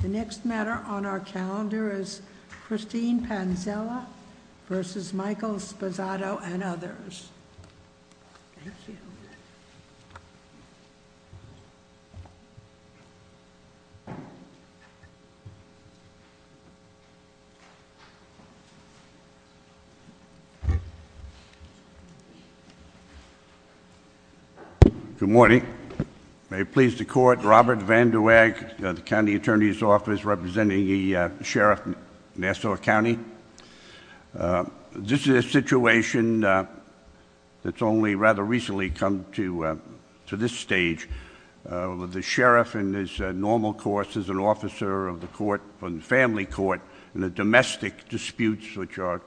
The next matter on our calendar is Christine Panzella v. Michael Sposato and others. Thank you. Good morning. May it please the Court, Robert Van de Weck, County Attorney's Office, representing the Sheriff of Nassau County. This is a situation that's only rather recently come to this stage. The Sheriff in his normal course as an officer of the family court in the domestic disputes, which are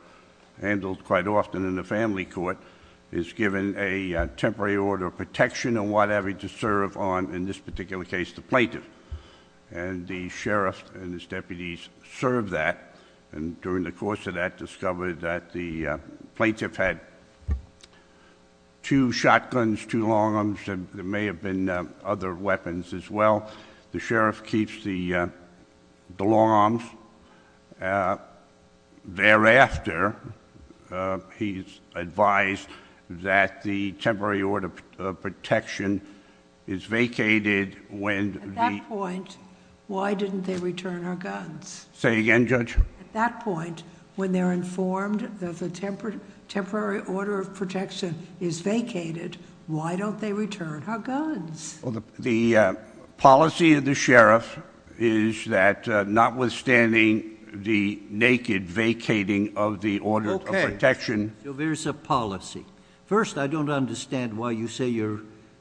handled quite often in the family court, is given a temporary order of protection or whatever to serve on, in this particular case, the plaintiff. And the Sheriff and his deputies serve that. And during the course of that, discovered that the plaintiff had two shotguns, two long arms. There may have been other weapons as well. The Sheriff keeps the long arms. Thereafter, he's advised that the temporary order of protection is vacated when... At that point, why didn't they return her guns? Say again, Judge? At that point, when they're informed that the temporary order of protection is vacated, why don't they return her guns? The policy of the Sheriff is that notwithstanding the naked vacating of the order of protection... Okay. So, there's a policy. First, I don't understand why you say you're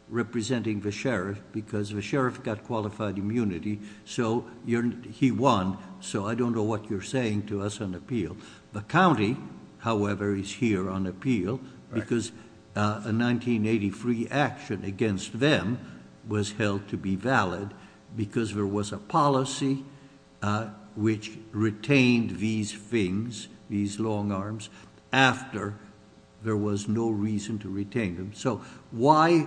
representing the Sheriff because the Sheriff got qualified immunity. So, he won. So, I don't know what you're saying to us on appeal. The county, however, is here on appeal because a 1983 action against them was held to be valid... because there was a policy, which retained these things, these long arms, after there was no reason to retain them. So, why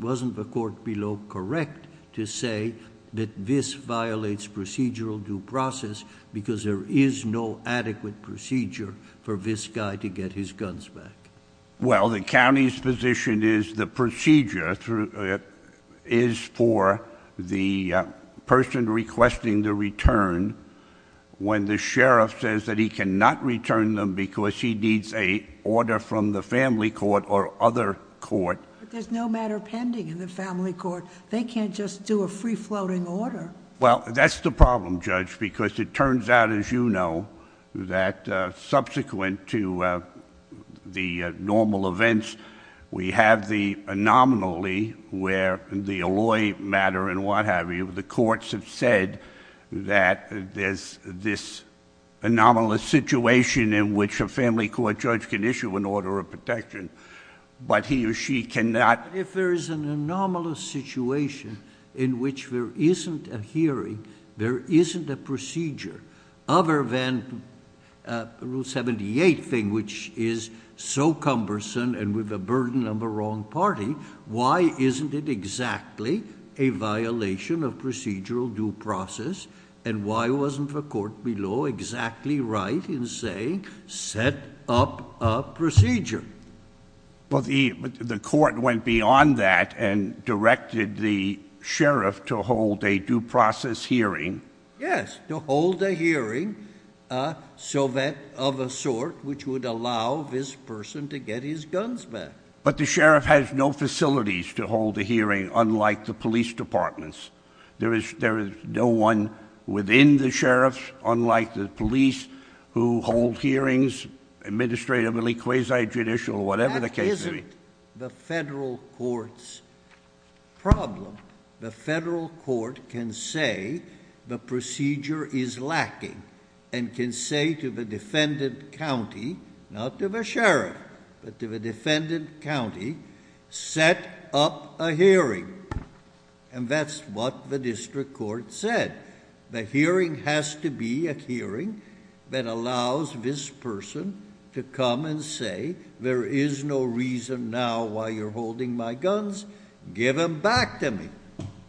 wasn't the court below correct to say that this violates procedural due process... because there is no adequate procedure for this guy to get his guns back? Well, the county's position is the procedure is for the person requesting the return... But, there's no matter pending in the family court. They can't just do a free-floating order. Well, that's the problem, Judge, because it turns out, as you know, that subsequent to the normal events... we have the anomaly where the alloy matter and what have you. The courts have said that there's this anomalous situation in which a family court judge can issue an order of protection... but he or she cannot... If there is an anomalous situation in which there isn't a hearing, there isn't a procedure... other than Rule 78 thing, which is so cumbersome and with a burden of a wrong party... why isn't it exactly a violation of procedural due process? And, why wasn't the court below exactly right in saying, set up a procedure? Well, the court went beyond that and directed the sheriff to hold a due process hearing. Yes, to hold a hearing, so that of a sort, which would allow this person to get his guns back. But, the sheriff has no facilities to hold a hearing, unlike the police departments. There is no one within the sheriffs, unlike the police, who hold hearings, administratively, quasi-judicial, whatever the case may be. That isn't the federal court's problem. The federal court can say the procedure is lacking and can say to the defendant county... not to the sheriff, but to the defendant county, set up a hearing. And, that's what the district court said. The hearing has to be a hearing that allows this person to come and say, there is no reason now, why you're holding my guns. Give them back to me.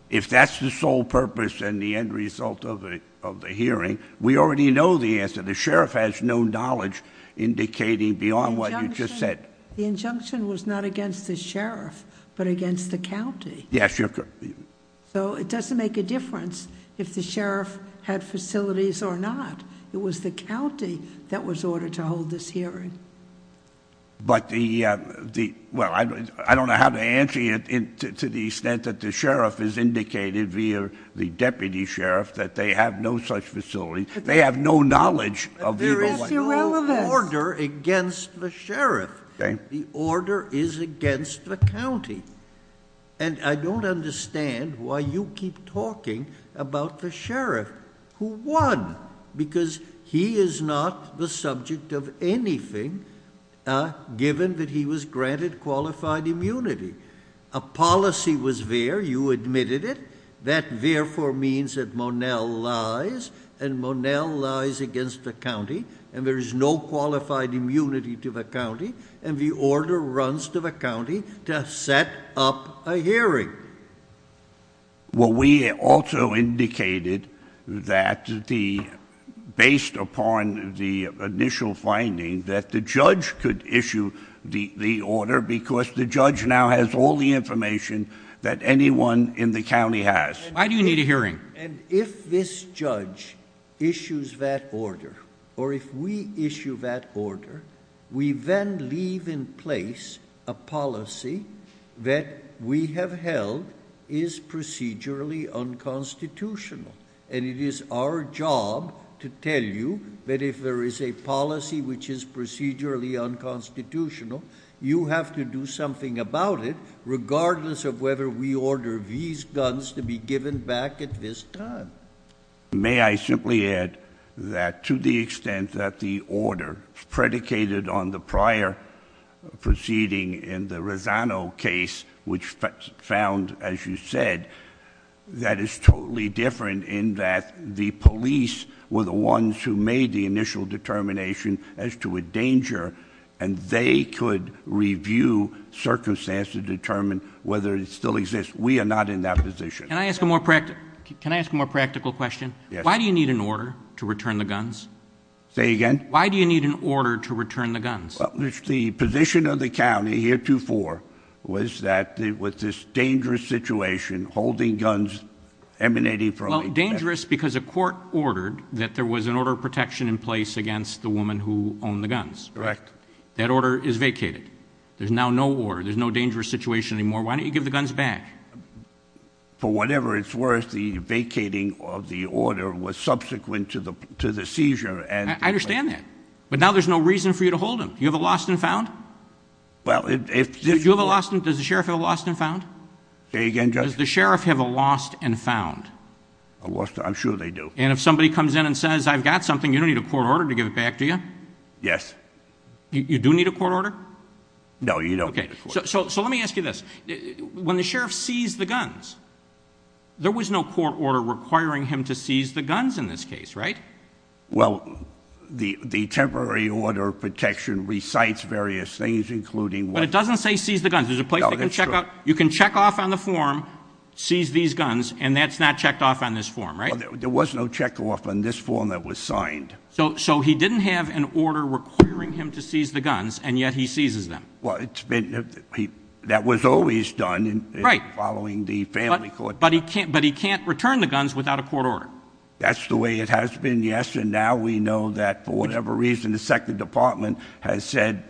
If that's the sole purpose and the end result of the hearing, we already know the answer. The sheriff has no knowledge indicating beyond what you just said. The injunction was not against the sheriff, but against the county. Yes, your... So, it doesn't make a difference if the sheriff had facilities or not. It was the county that was ordered to hold this hearing. But, the... well, I don't know how to answer you to the extent that the sheriff is indicated, via the deputy sheriff, that they have no such facilities. They have no knowledge of... That's irrelevant. There is no order against the sheriff. Okay. The order is against the county. And, I don't understand why you keep talking about the sheriff, who won. Because, he is not the subject of anything, given that he was granted qualified immunity. A policy was there. You admitted it. That, therefore, means that Monell lies. And, Monell lies against the county. And, there is no qualified immunity to the county. And, the order runs to the county to set up a hearing. Well, we also indicated that the... based upon the initial finding, that the judge could issue the order. Because, the judge now has all the information that anyone in the county has. Why do you need a hearing? And, if this judge issues that order, or if we issue that order, we then leave in place a policy that we have held is procedurally unconstitutional. And, it is our job to tell you that if there is a policy which is procedurally unconstitutional, you have to do something about it, regardless of whether we order these guns to be given back at this time. May I simply add that to the extent that the order predicated on the prior proceeding in the Rosano case, which found, as you said, that is totally different in that the police were the ones who made the initial determination as to a danger. And, they could review circumstances to determine whether it still exists. We are not in that position. Can I ask a more practical question? Yes. Why do you need an order to return the guns? Say again? Why do you need an order to return the guns? The position of the county heretofore was that with this dangerous situation, holding guns emanating from... Well, dangerous because a court ordered that there was an order of protection in place against the woman who owned the guns. Correct. That order is vacated. There's now no order. There's no dangerous situation anymore. Why don't you give the guns back? For whatever it's worth, the vacating of the order was subsequent to the seizure and... I understand that. But, now there's no reason for you to hold them. Do you have a lost and found? Well, if... Do you have a lost and... Does the sheriff have a lost and found? Say again, Judge? Does the sheriff have a lost and found? A lost... I'm sure they do. And, if somebody comes in and says, I've got something, you don't need a court order to give it back, do you? Yes. You do need a court order? No, you don't need a court order. Okay. So, let me ask you this. When the sheriff seized the guns, there was no court order requiring him to seize the guns in this case, right? Well, the temporary order of protection recites various things, including what... But, it doesn't say seize the guns. There's a place they can check off... No, that's true. You can check off on the form, seize these guns, and that's not checked off on this form, right? Well, there was no check off on this form that was signed. So, he didn't have an order requiring him to seize the guns, and yet he seizes them. Well, it's been... that was always done... Right.... following the family court... But, he can't return the guns without a court order. That's the way it has been, yes, and now we know that, for whatever reason, the second department has said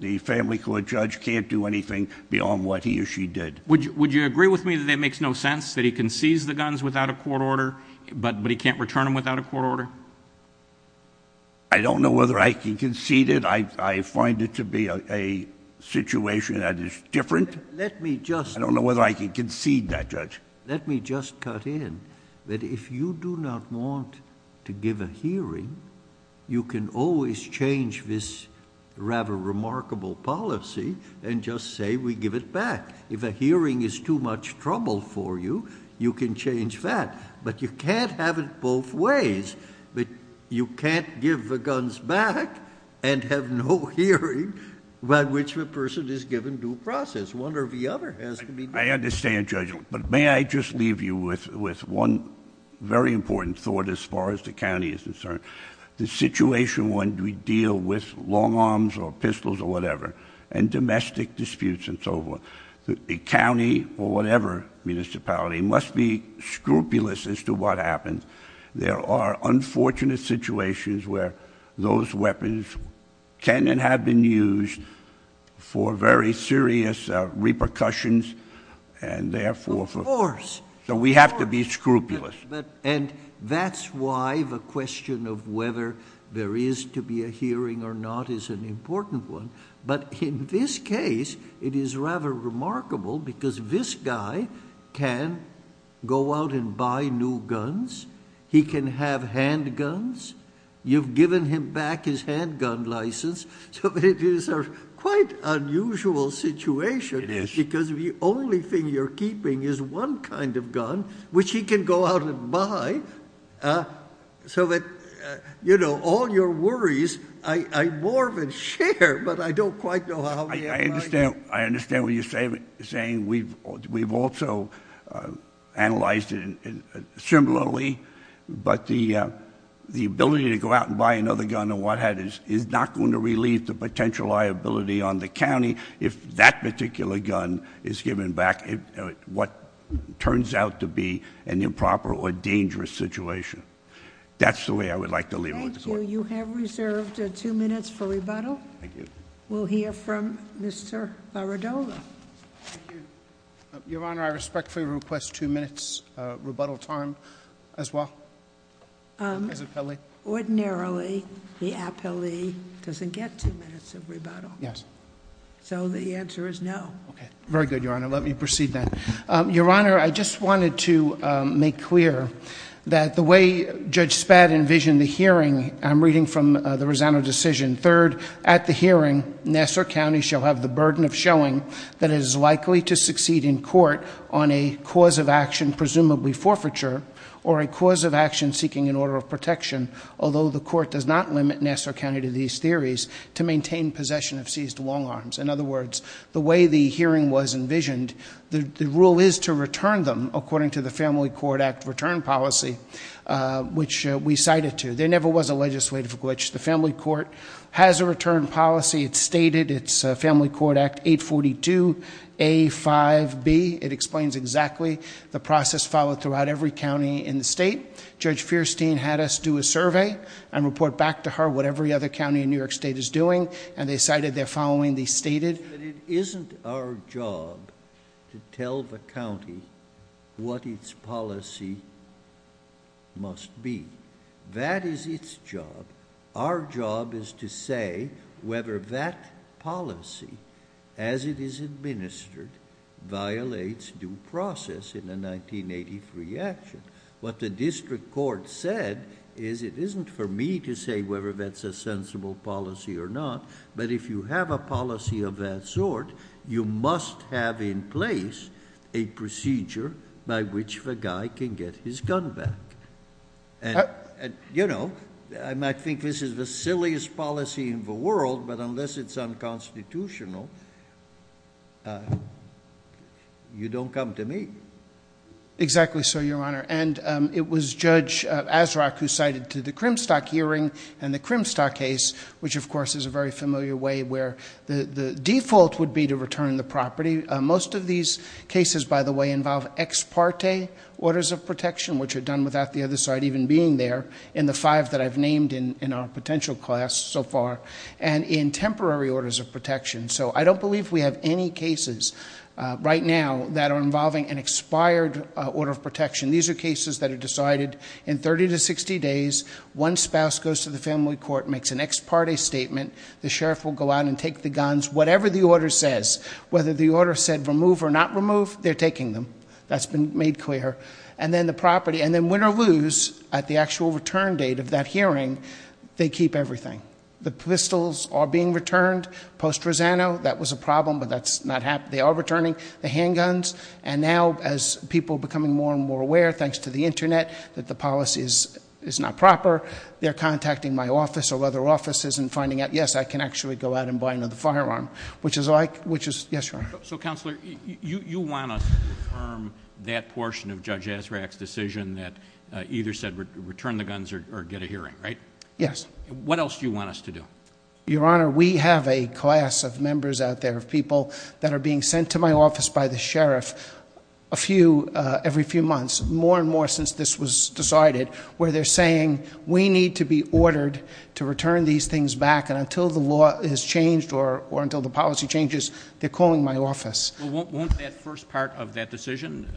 the family court judge can't do anything beyond what he or she did. Would you agree with me that it makes no sense that he can seize the guns without a court order, but he can't return them without a court order? I don't know whether I can concede it. I find it to be a situation that is different. Let me just... I don't know whether I can concede that, Judge. Let me just cut in that if you do not want to give a hearing, you can always change this rather remarkable policy and just say we give it back. If a hearing is too much trouble for you, you can change that, but you can't have it both ways. You can't give the guns back and have no hearing by which the person is given due process. One or the other has to be... I understand, Judge, but may I just leave you with one very important thought as far as the county is concerned. The situation when we deal with long arms or pistols or whatever and domestic disputes and so forth, the county or whatever municipality must be scrupulous as to what happens. There are unfortunate situations where those weapons can and have been used for very serious repercussions and therefore... Of course. We have to be scrupulous. That's why the question of whether there is to be a hearing or not is an important one. In this case, it is rather remarkable because this guy can go out and buy new guns. He can have handguns. You've given him back his handgun license. It is a quite unusual situation... It is. I don't quite know how... I understand what you're saying. We've also analyzed it similarly, but the ability to go out and buy another gun and what have you is not going to relieve the potential liability on the county if that particular gun is given back in what turns out to be an improper or dangerous situation. That's the way I would like to leave it. Thank you. You have reserved two minutes for rebuttal. Thank you. We'll hear from Mr. Baradola. Thank you. Your Honor, I respectfully request two minutes rebuttal time as well. As an appellee. Ordinarily, the appellee doesn't get two minutes of rebuttal. Yes. So, the answer is no. Okay. Very good, Your Honor. Let me proceed then. Your Honor, I just wanted to make clear that the way Judge Spad envisioned the hearing... I'm reading from the Rosano decision. Third, at the hearing, Nassau County shall have the burden of showing that it is likely to succeed in court on a cause of action, presumably forfeiture, or a cause of action seeking an order of protection. Although the court does not limit Nassau County to these theories, to maintain possession of seized long arms. In other words, the way the hearing was envisioned, the rule is to return them according to the Family Court Act return policy, which we cited to. There never was a legislative glitch. The Family Court has a return policy. It's stated. It's Family Court Act 842A5B. It explains exactly the process followed throughout every county in the state. Judge Fierstein had us do a survey and report back to her what every other county in New York State is doing. And they cited their following. They stated... It isn't our job to tell the county what its policy must be. That is its job. Our job is to say whether that policy, as it is administered, violates due process in a 1983 action. What the district court said is it isn't for me to say whether that's a sensible policy or not. But if you have a policy of that sort, you must have in place a procedure by which the guy can get his gun back. You know, I might think this is the silliest policy in the world, but unless it's unconstitutional, you don't come to me. Exactly so, Your Honor. And it was Judge Asrock who cited to the Crimstock hearing and the Crimstock case, which, of course, is a very familiar way where the default would be to return the property. Most of these cases, by the way, involve ex parte orders of protection, which are done without the other side even being there in the five that I've named in our potential class so far, and in temporary orders of protection. So I don't believe we have any cases right now that are involving an expired order of protection. These are cases that are decided in 30 to 60 days. One spouse goes to the family court, makes an ex parte statement. The sheriff will go out and take the guns. Whatever the order says, whether the order said remove or not remove, they're taking them. That's been made clear. And then the property, and then win or lose, at the actual return date of that hearing, they keep everything. The pistols are being returned post-Rosano. That was a problem, but that's not happening. They are returning the handguns. And now, as people are becoming more and more aware, thanks to the Internet, that the policy is not proper, they're contacting my office or other offices and finding out, yes, I can actually go out and buy another firearm. Yes, Your Honor. So, Counselor, you want us to confirm that portion of Judge Azraq's decision that either said return the guns or get a hearing, right? Yes. What else do you want us to do? Your Honor, we have a class of members out there of people that are being sent to my office by the sheriff every few months, more and more since this was decided, where they're saying we need to be ordered to return these things back. And until the law is changed or until the policy changes, they're calling my office. Well, won't that first part of that decision,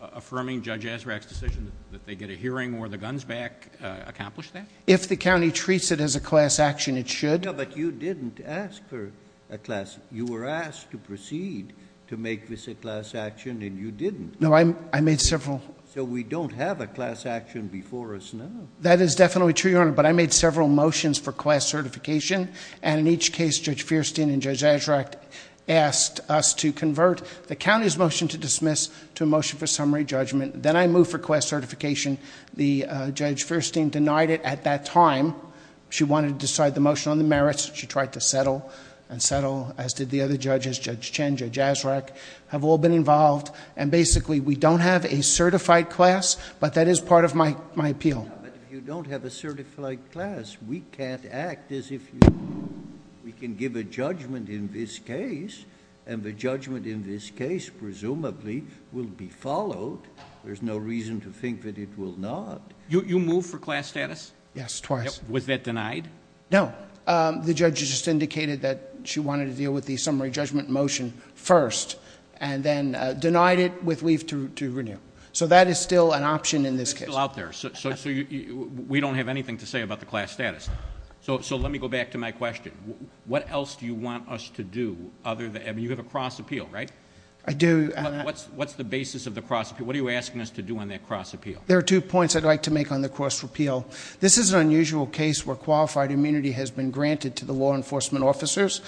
affirming Judge Azraq's decision that they get a hearing or the guns back, accomplish that? If the county treats it as a class action, it should. No, but you didn't ask for a class. You were asked to proceed to make this a class action, and you didn't. No, I made several. So we don't have a class action before us now. That is definitely true, Your Honor, but I made several motions for class certification, and in each case, Judge Feirstein and Judge Azraq asked us to convert the county's motion to dismiss to a motion for summary judgment. Then I moved for class certification. Judge Feirstein denied it at that time. She wanted to decide the motion on the merits. She tried to settle and settle, as did the other judges, Judge Chen, Judge Azraq, have all been involved. And basically, we don't have a certified class, but that is part of my appeal. But if you don't have a certified class, we can't act as if we can give a judgment in this case, and the judgment in this case presumably will be followed. There's no reason to think that it will not. You moved for class status? Yes, twice. Was that denied? No. The judge just indicated that she wanted to deal with the summary judgment motion first, and then denied it with leave to renew. So that is still an option in this case. It's still out there. So we don't have anything to say about the class status. So let me go back to my question. What else do you want us to do? I mean, you have a cross appeal, right? I do. What's the basis of the cross appeal? What are you asking us to do on that cross appeal? There are two points I'd like to make on the cross appeal. This is an unusual case where qualified immunity has been granted to the law enforcement officers.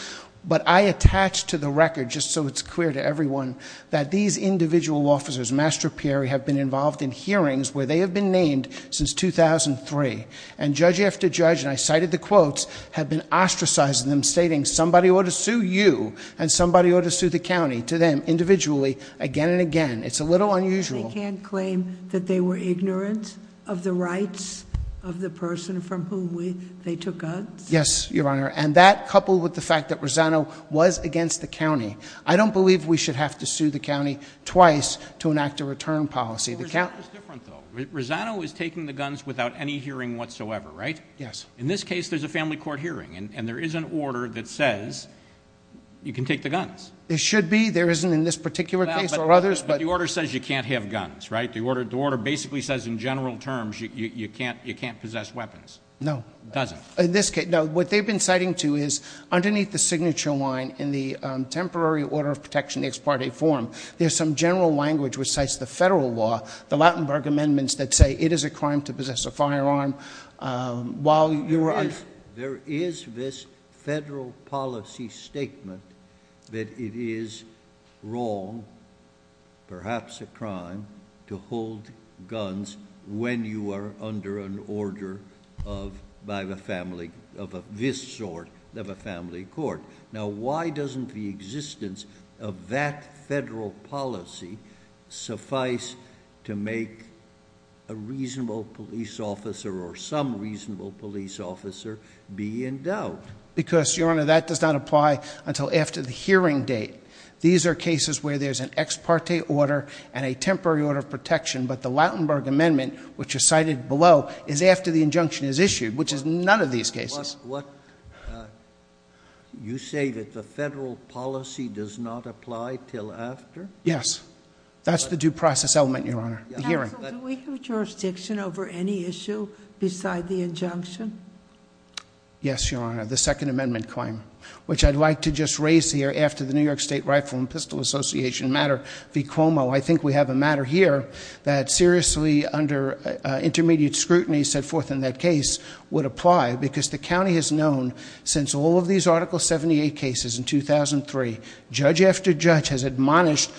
But I attach to the record, just so it's clear to everyone, that these individual officers, Master Pierre, have been involved in hearings where they have been named since 2003. And judge after judge, and I cited the quotes, have been ostracizing them, stating somebody ought to sue you and somebody ought to sue the county to them individually again and again. It's a little unusual. So they can't claim that they were ignorant of the rights of the person from whom they took guns? Yes, Your Honor. And that, coupled with the fact that Rosano was against the county, I don't believe we should have to sue the county twice to enact a return policy. Rosano is different, though. Rosano is taking the guns without any hearing whatsoever, right? Yes. In this case, there's a family court hearing, and there is an order that says you can take the guns. There should be. There isn't in this particular case or others. But the order says you can't have guns, right? The order basically says in general terms you can't possess weapons. No. It doesn't. In this case, no. What they've been citing, too, is underneath the signature line in the temporary order of protection, the ex parte form, there's some general language which cites the federal law, the Lautenberg amendments that say it is a crime to possess a firearm. There is this federal policy statement that it is wrong, perhaps a crime, to hold guns when you are under an order of this sort of a family court. Now, why doesn't the existence of that federal policy suffice to make a reasonable police officer or some reasonable police officer be in doubt? Because, Your Honor, that does not apply until after the hearing date. These are cases where there's an ex parte order and a temporary order of protection, but the Lautenberg amendment, which is cited below, is after the injunction is issued, which is none of these cases. You say that the federal policy does not apply until after? Yes. That's the due process element, Your Honor, the hearing. Counsel, do we have jurisdiction over any issue beside the injunction? Yes, Your Honor, the second amendment claim, which I'd like to just raise here after the New York State Rifle and Pistol Association matter v. Cuomo. I think we have a matter here that seriously under intermediate scrutiny set forth in that case would apply because the county has known since all of these Article 78 cases in 2003, judge after judge has admonished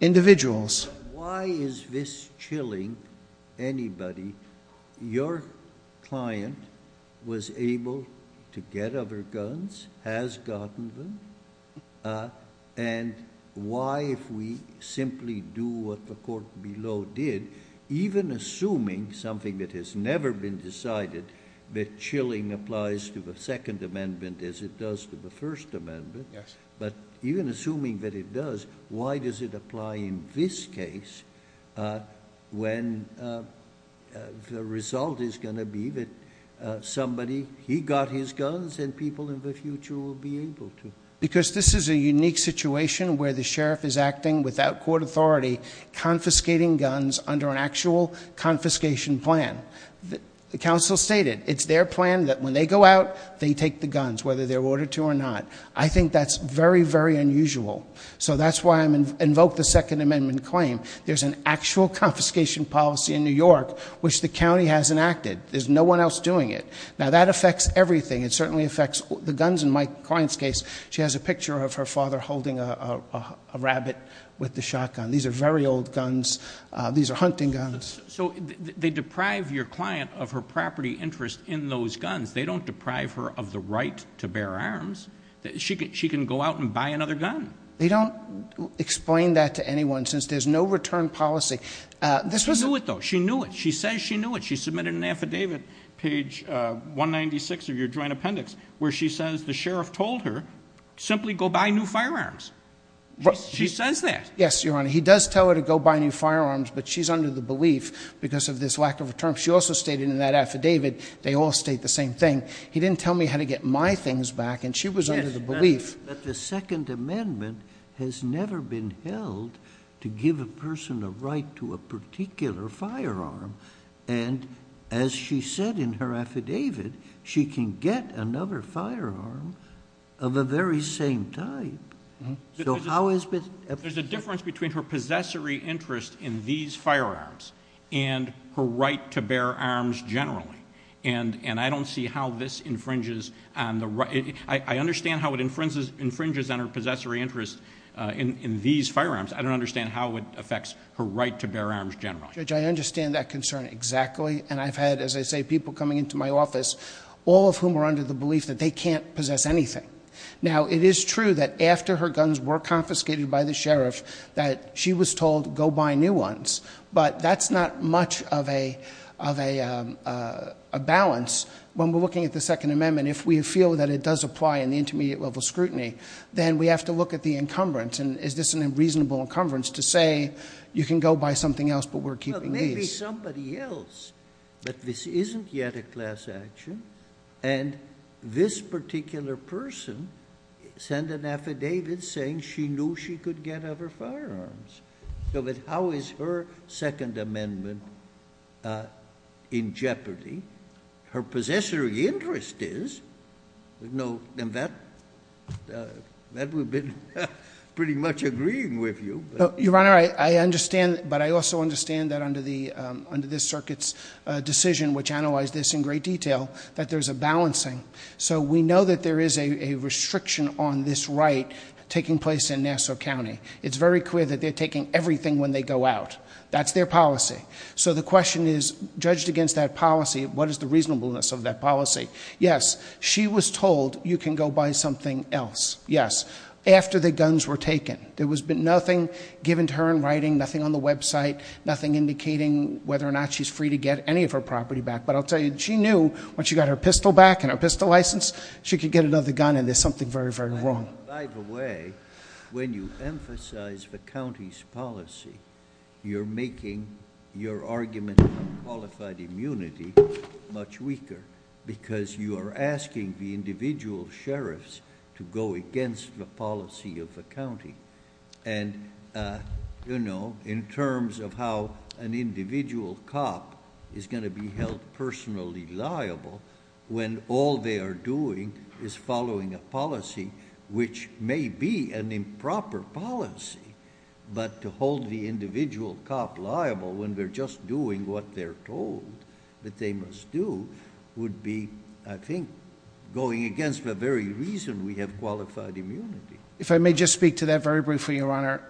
individuals. Why is this chilling anybody? Your client was able to get other guns, has gotten them, and why if we simply do what the court below did, even assuming something that has never been decided, that chilling applies to the second amendment as it does to the first amendment. Yes. But even assuming that it does, why does it apply in this case when the result is going to be that somebody, he got his guns and people in the future will be able to? Because this is a unique situation where the sheriff is acting without court authority, confiscating guns under an actual confiscation plan. The counsel stated it's their plan that when they go out, they take the guns, whether they're ordered to or not. I think that's very, very unusual. So that's why I invoke the second amendment claim. There's an actual confiscation policy in New York which the county has enacted. There's no one else doing it. Now, that affects everything. It certainly affects the guns in my client's case. She has a picture of her father holding a rabbit with the shotgun. These are very old guns. These are hunting guns. So they deprive your client of her property interest in those guns. They don't deprive her of the right to bear arms. She can go out and buy another gun. They don't explain that to anyone since there's no return policy. She knew it, though. She knew it. She says she knew it. She submitted an affidavit, page 196 of your joint appendix, where she says the sheriff told her simply go buy new firearms. She says that. Yes, Your Honor. He does tell her to go buy new firearms, but she's under the belief because of this lack of return. She also stated in that affidavit they all state the same thing. He didn't tell me how to get my things back, and she was under the belief. But the Second Amendment has never been held to give a person the right to a particular firearm. And as she said in her affidavit, she can get another firearm of a very same type. There's a difference between her possessory interest in these firearms and her right to bear arms generally, and I don't see how this infringes on the right. I understand how it infringes on her possessory interest in these firearms. I don't understand how it affects her right to bear arms generally. Judge, I understand that concern exactly, and I've had, as I say, people coming into my office, all of whom are under the belief that they can't possess anything. Now, it is true that after her guns were confiscated by the sheriff that she was told go buy new ones, but that's not much of a balance when we're looking at the Second Amendment. If we feel that it does apply in the intermediate level scrutiny, then we have to look at the encumbrance. And is this a reasonable encumbrance to say you can go buy something else, but we're keeping these? Maybe somebody else, but this isn't yet a class action, and this particular person sent an affidavit saying she knew she could get other firearms. So how is her Second Amendment in jeopardy? Her possessory interest is. And that we've been pretty much agreeing with you. Your Honor, I understand, but I also understand that under this circuit's decision, which analyzed this in great detail, that there's a balancing. So we know that there is a restriction on this right taking place in Nassau County. It's very clear that they're taking everything when they go out. That's their policy. So the question is, judged against that policy, what is the reasonableness of that policy? Yes, she was told you can go buy something else, yes, after the guns were taken. There was nothing given to her in writing, nothing on the website, nothing indicating whether or not she's free to get any of her property back. But I'll tell you, she knew when she got her pistol back and her pistol license, she could get another gun, and there's something very, very wrong. By the way, when you emphasize the county's policy, you're making your argument on qualified immunity much weaker because you are asking the individual sheriffs to go against the policy of the county. And, you know, in terms of how an individual cop is going to be held personally liable when all they are doing is following a policy which may be an improper policy, but to hold the individual cop liable when they're just doing what they're told that they must do, would be, I think, going against the very reason we have qualified immunity. If I may just speak to that very briefly, Your Honor,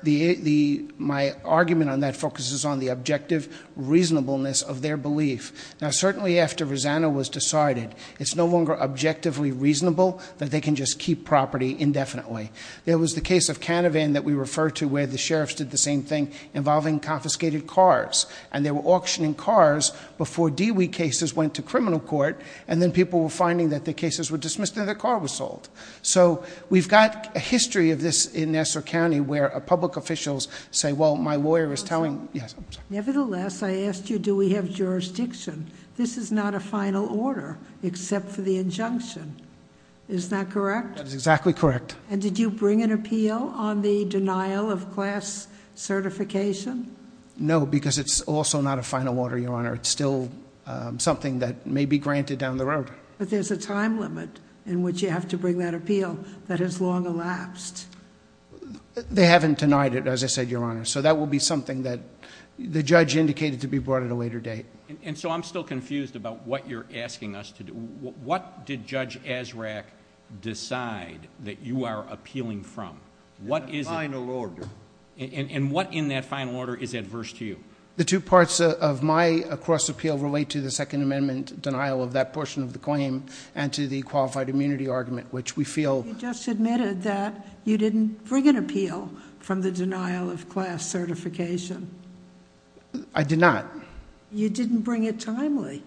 my argument on that focuses on the objective reasonableness of their belief. Now, certainly after Rosanna was decided, it's no longer objectively reasonable that they can just keep property indefinitely. There was the case of Canavan that we refer to where the sheriffs did the same thing involving confiscated cars, and they were auctioning cars before Dewey cases went to criminal court, and then people were finding that the cases were dismissed and their car was sold. So we've got a history of this in Nassau County where public officials say, well, my lawyer is telling... Nevertheless, I asked you do we have jurisdiction. This is not a final order except for the injunction. Is that correct? That is exactly correct. And did you bring an appeal on the denial of class certification? No, because it's also not a final order, Your Honor. It's still something that may be granted down the road. But there's a time limit in which you have to bring that appeal that has long elapsed. They haven't denied it, as I said, Your Honor. So that will be something that the judge indicated to be brought at a later date. And so I'm still confused about what you're asking us to do. What did Judge Azraq decide that you are appealing from? What is it? A final order. And what in that final order is adverse to you? The two parts of my cross appeal relate to the Second Amendment denial of that portion of the claim and to the qualified immunity argument, which we feel... You just admitted that you didn't bring an appeal from the denial of class certification. I did not. You didn't bring it timely.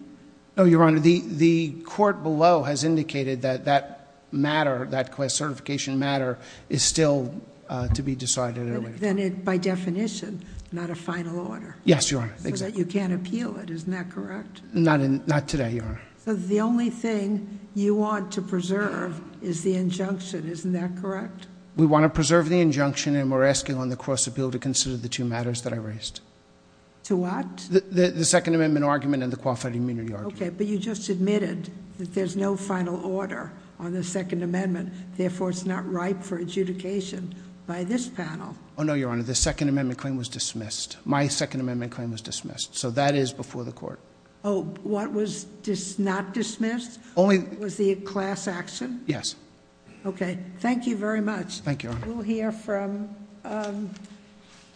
No, Your Honor. Your Honor, the court below has indicated that that matter, that class certification matter, is still to be decided at a later time. Then by definition, not a final order. Yes, Your Honor. So that you can't appeal it. Isn't that correct? Not today, Your Honor. So the only thing you want to preserve is the injunction. Isn't that correct? We want to preserve the injunction, and we're asking on the cross appeal to consider the two matters that I raised. To what? The Second Amendment argument and the qualified immunity argument. Okay, but you just admitted that there's no final order on the Second Amendment, therefore it's not ripe for adjudication by this panel. Oh, no, Your Honor. The Second Amendment claim was dismissed. My Second Amendment claim was dismissed, so that is before the court. Oh, what was not dismissed? Only... Was the class action? Yes. Okay. Thank you very much. Thank you, Your Honor. We'll hear from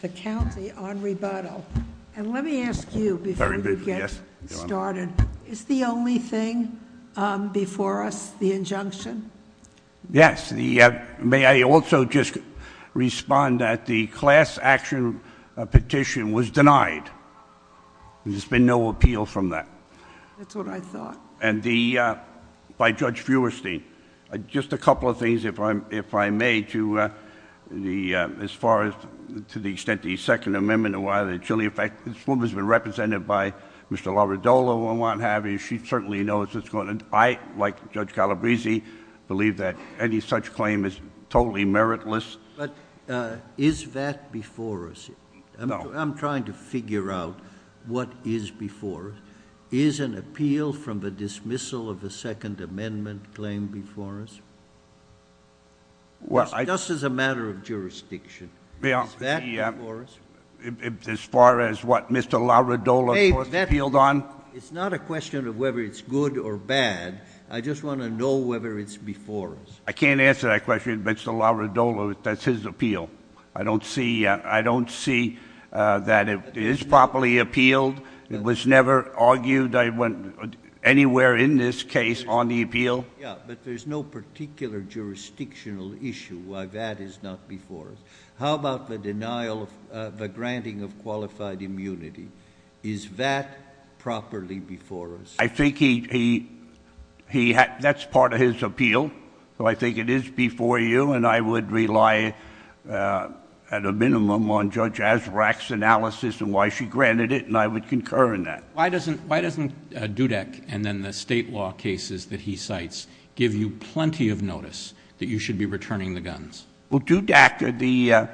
the county on rebuttal. And let me ask you before you get started. Is the only thing before us the injunction? Yes. May I also just respond that the class action petition was denied. There's been no appeal from that. That's what I thought. And by Judge Feuerstein, just a couple of things, if I may, as far as to the extent of the Second Amendment and why that's really effective. This woman's been represented by Mr. Labradoro and what have you. She certainly knows what's going on. I, like Judge Calabresi, believe that any such claim is totally meritless. But is that before us? No. I'm trying to figure out what is before us. Is an appeal from the dismissal of the Second Amendment claim before us? Just as a matter of jurisdiction. Is that before us? As far as what Mr. Labradoro, of course, appealed on? It's not a question of whether it's good or bad. I just want to know whether it's before us. I can't answer that question. Mr. Labradoro, that's his appeal. I don't see that it is properly appealed. It was never argued anywhere in this case on the appeal. Yeah, but there's no particular jurisdictional issue why that is not before us. How about the denial of the granting of qualified immunity? Is that properly before us? I think that's part of his appeal. So I think it is before you. And I would rely at a minimum on Judge Azraq's analysis and why she granted it. And I would concur in that. Why doesn't Dudek and then the state law cases that he cites give you plenty of notice that you should be returning the guns? Well, Dudek,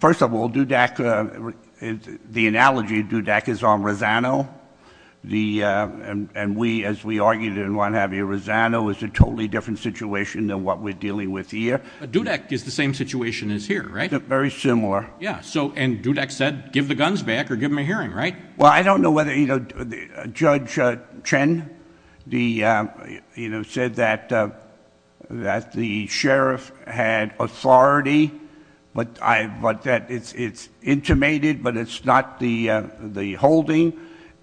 first of all, Dudek, the analogy of Dudek is on Rosano. And we, as we argued in what have you, Rosano is a totally different situation than what we're dealing with here. Dudek is the same situation as here, right? Very similar. Yeah, and Dudek said give the guns back or give him a hearing, right? Well, I don't know whether, you know, Judge Chen, you know, said that the sheriff had authority, but it's intimated, but it's not the holding,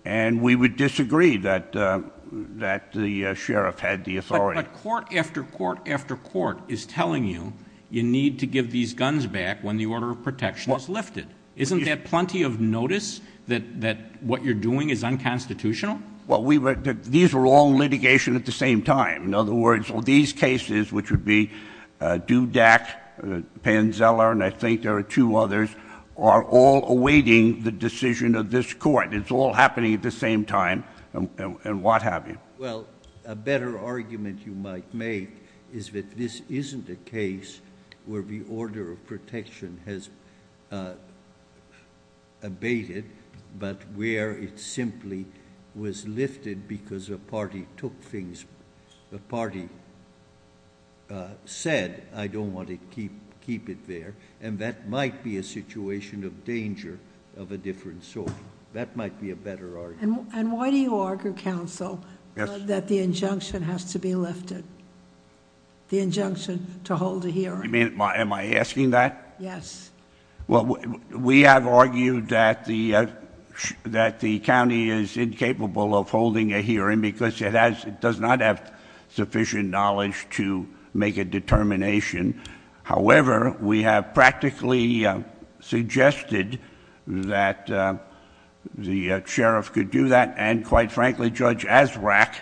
and we would disagree that the sheriff had the authority. But court after court after court is telling you you need to give these guns back when the order of protection is lifted. Isn't that plenty of notice that what you're doing is unconstitutional? Well, these were all litigation at the same time. In other words, these cases, which would be Dudek, Panzella, and I think there are two others, are all awaiting the decision of this court. It's all happening at the same time and what have you. Well, a better argument you might make is that this isn't a case where the order of protection has abated, but where it simply was lifted because a party took things, a party said I don't want to keep it there, and that might be a situation of danger of a different sort. That might be a better argument. And why do you argue, counsel, that the injunction has to be lifted, the injunction to hold a hearing? Am I asking that? Yes. Well, we have argued that the county is incapable of holding a hearing because it does not have sufficient knowledge to make a determination. However, we have practically suggested that the sheriff could do that, and quite frankly, Judge Azraq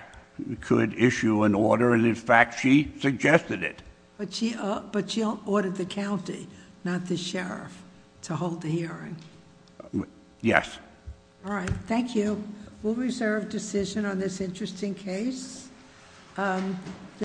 could issue an order, and in fact, she suggested it. But she ordered the county, not the sheriff, to hold the hearing. Yes. All right. Thank you. We'll reserve decision on this interesting case.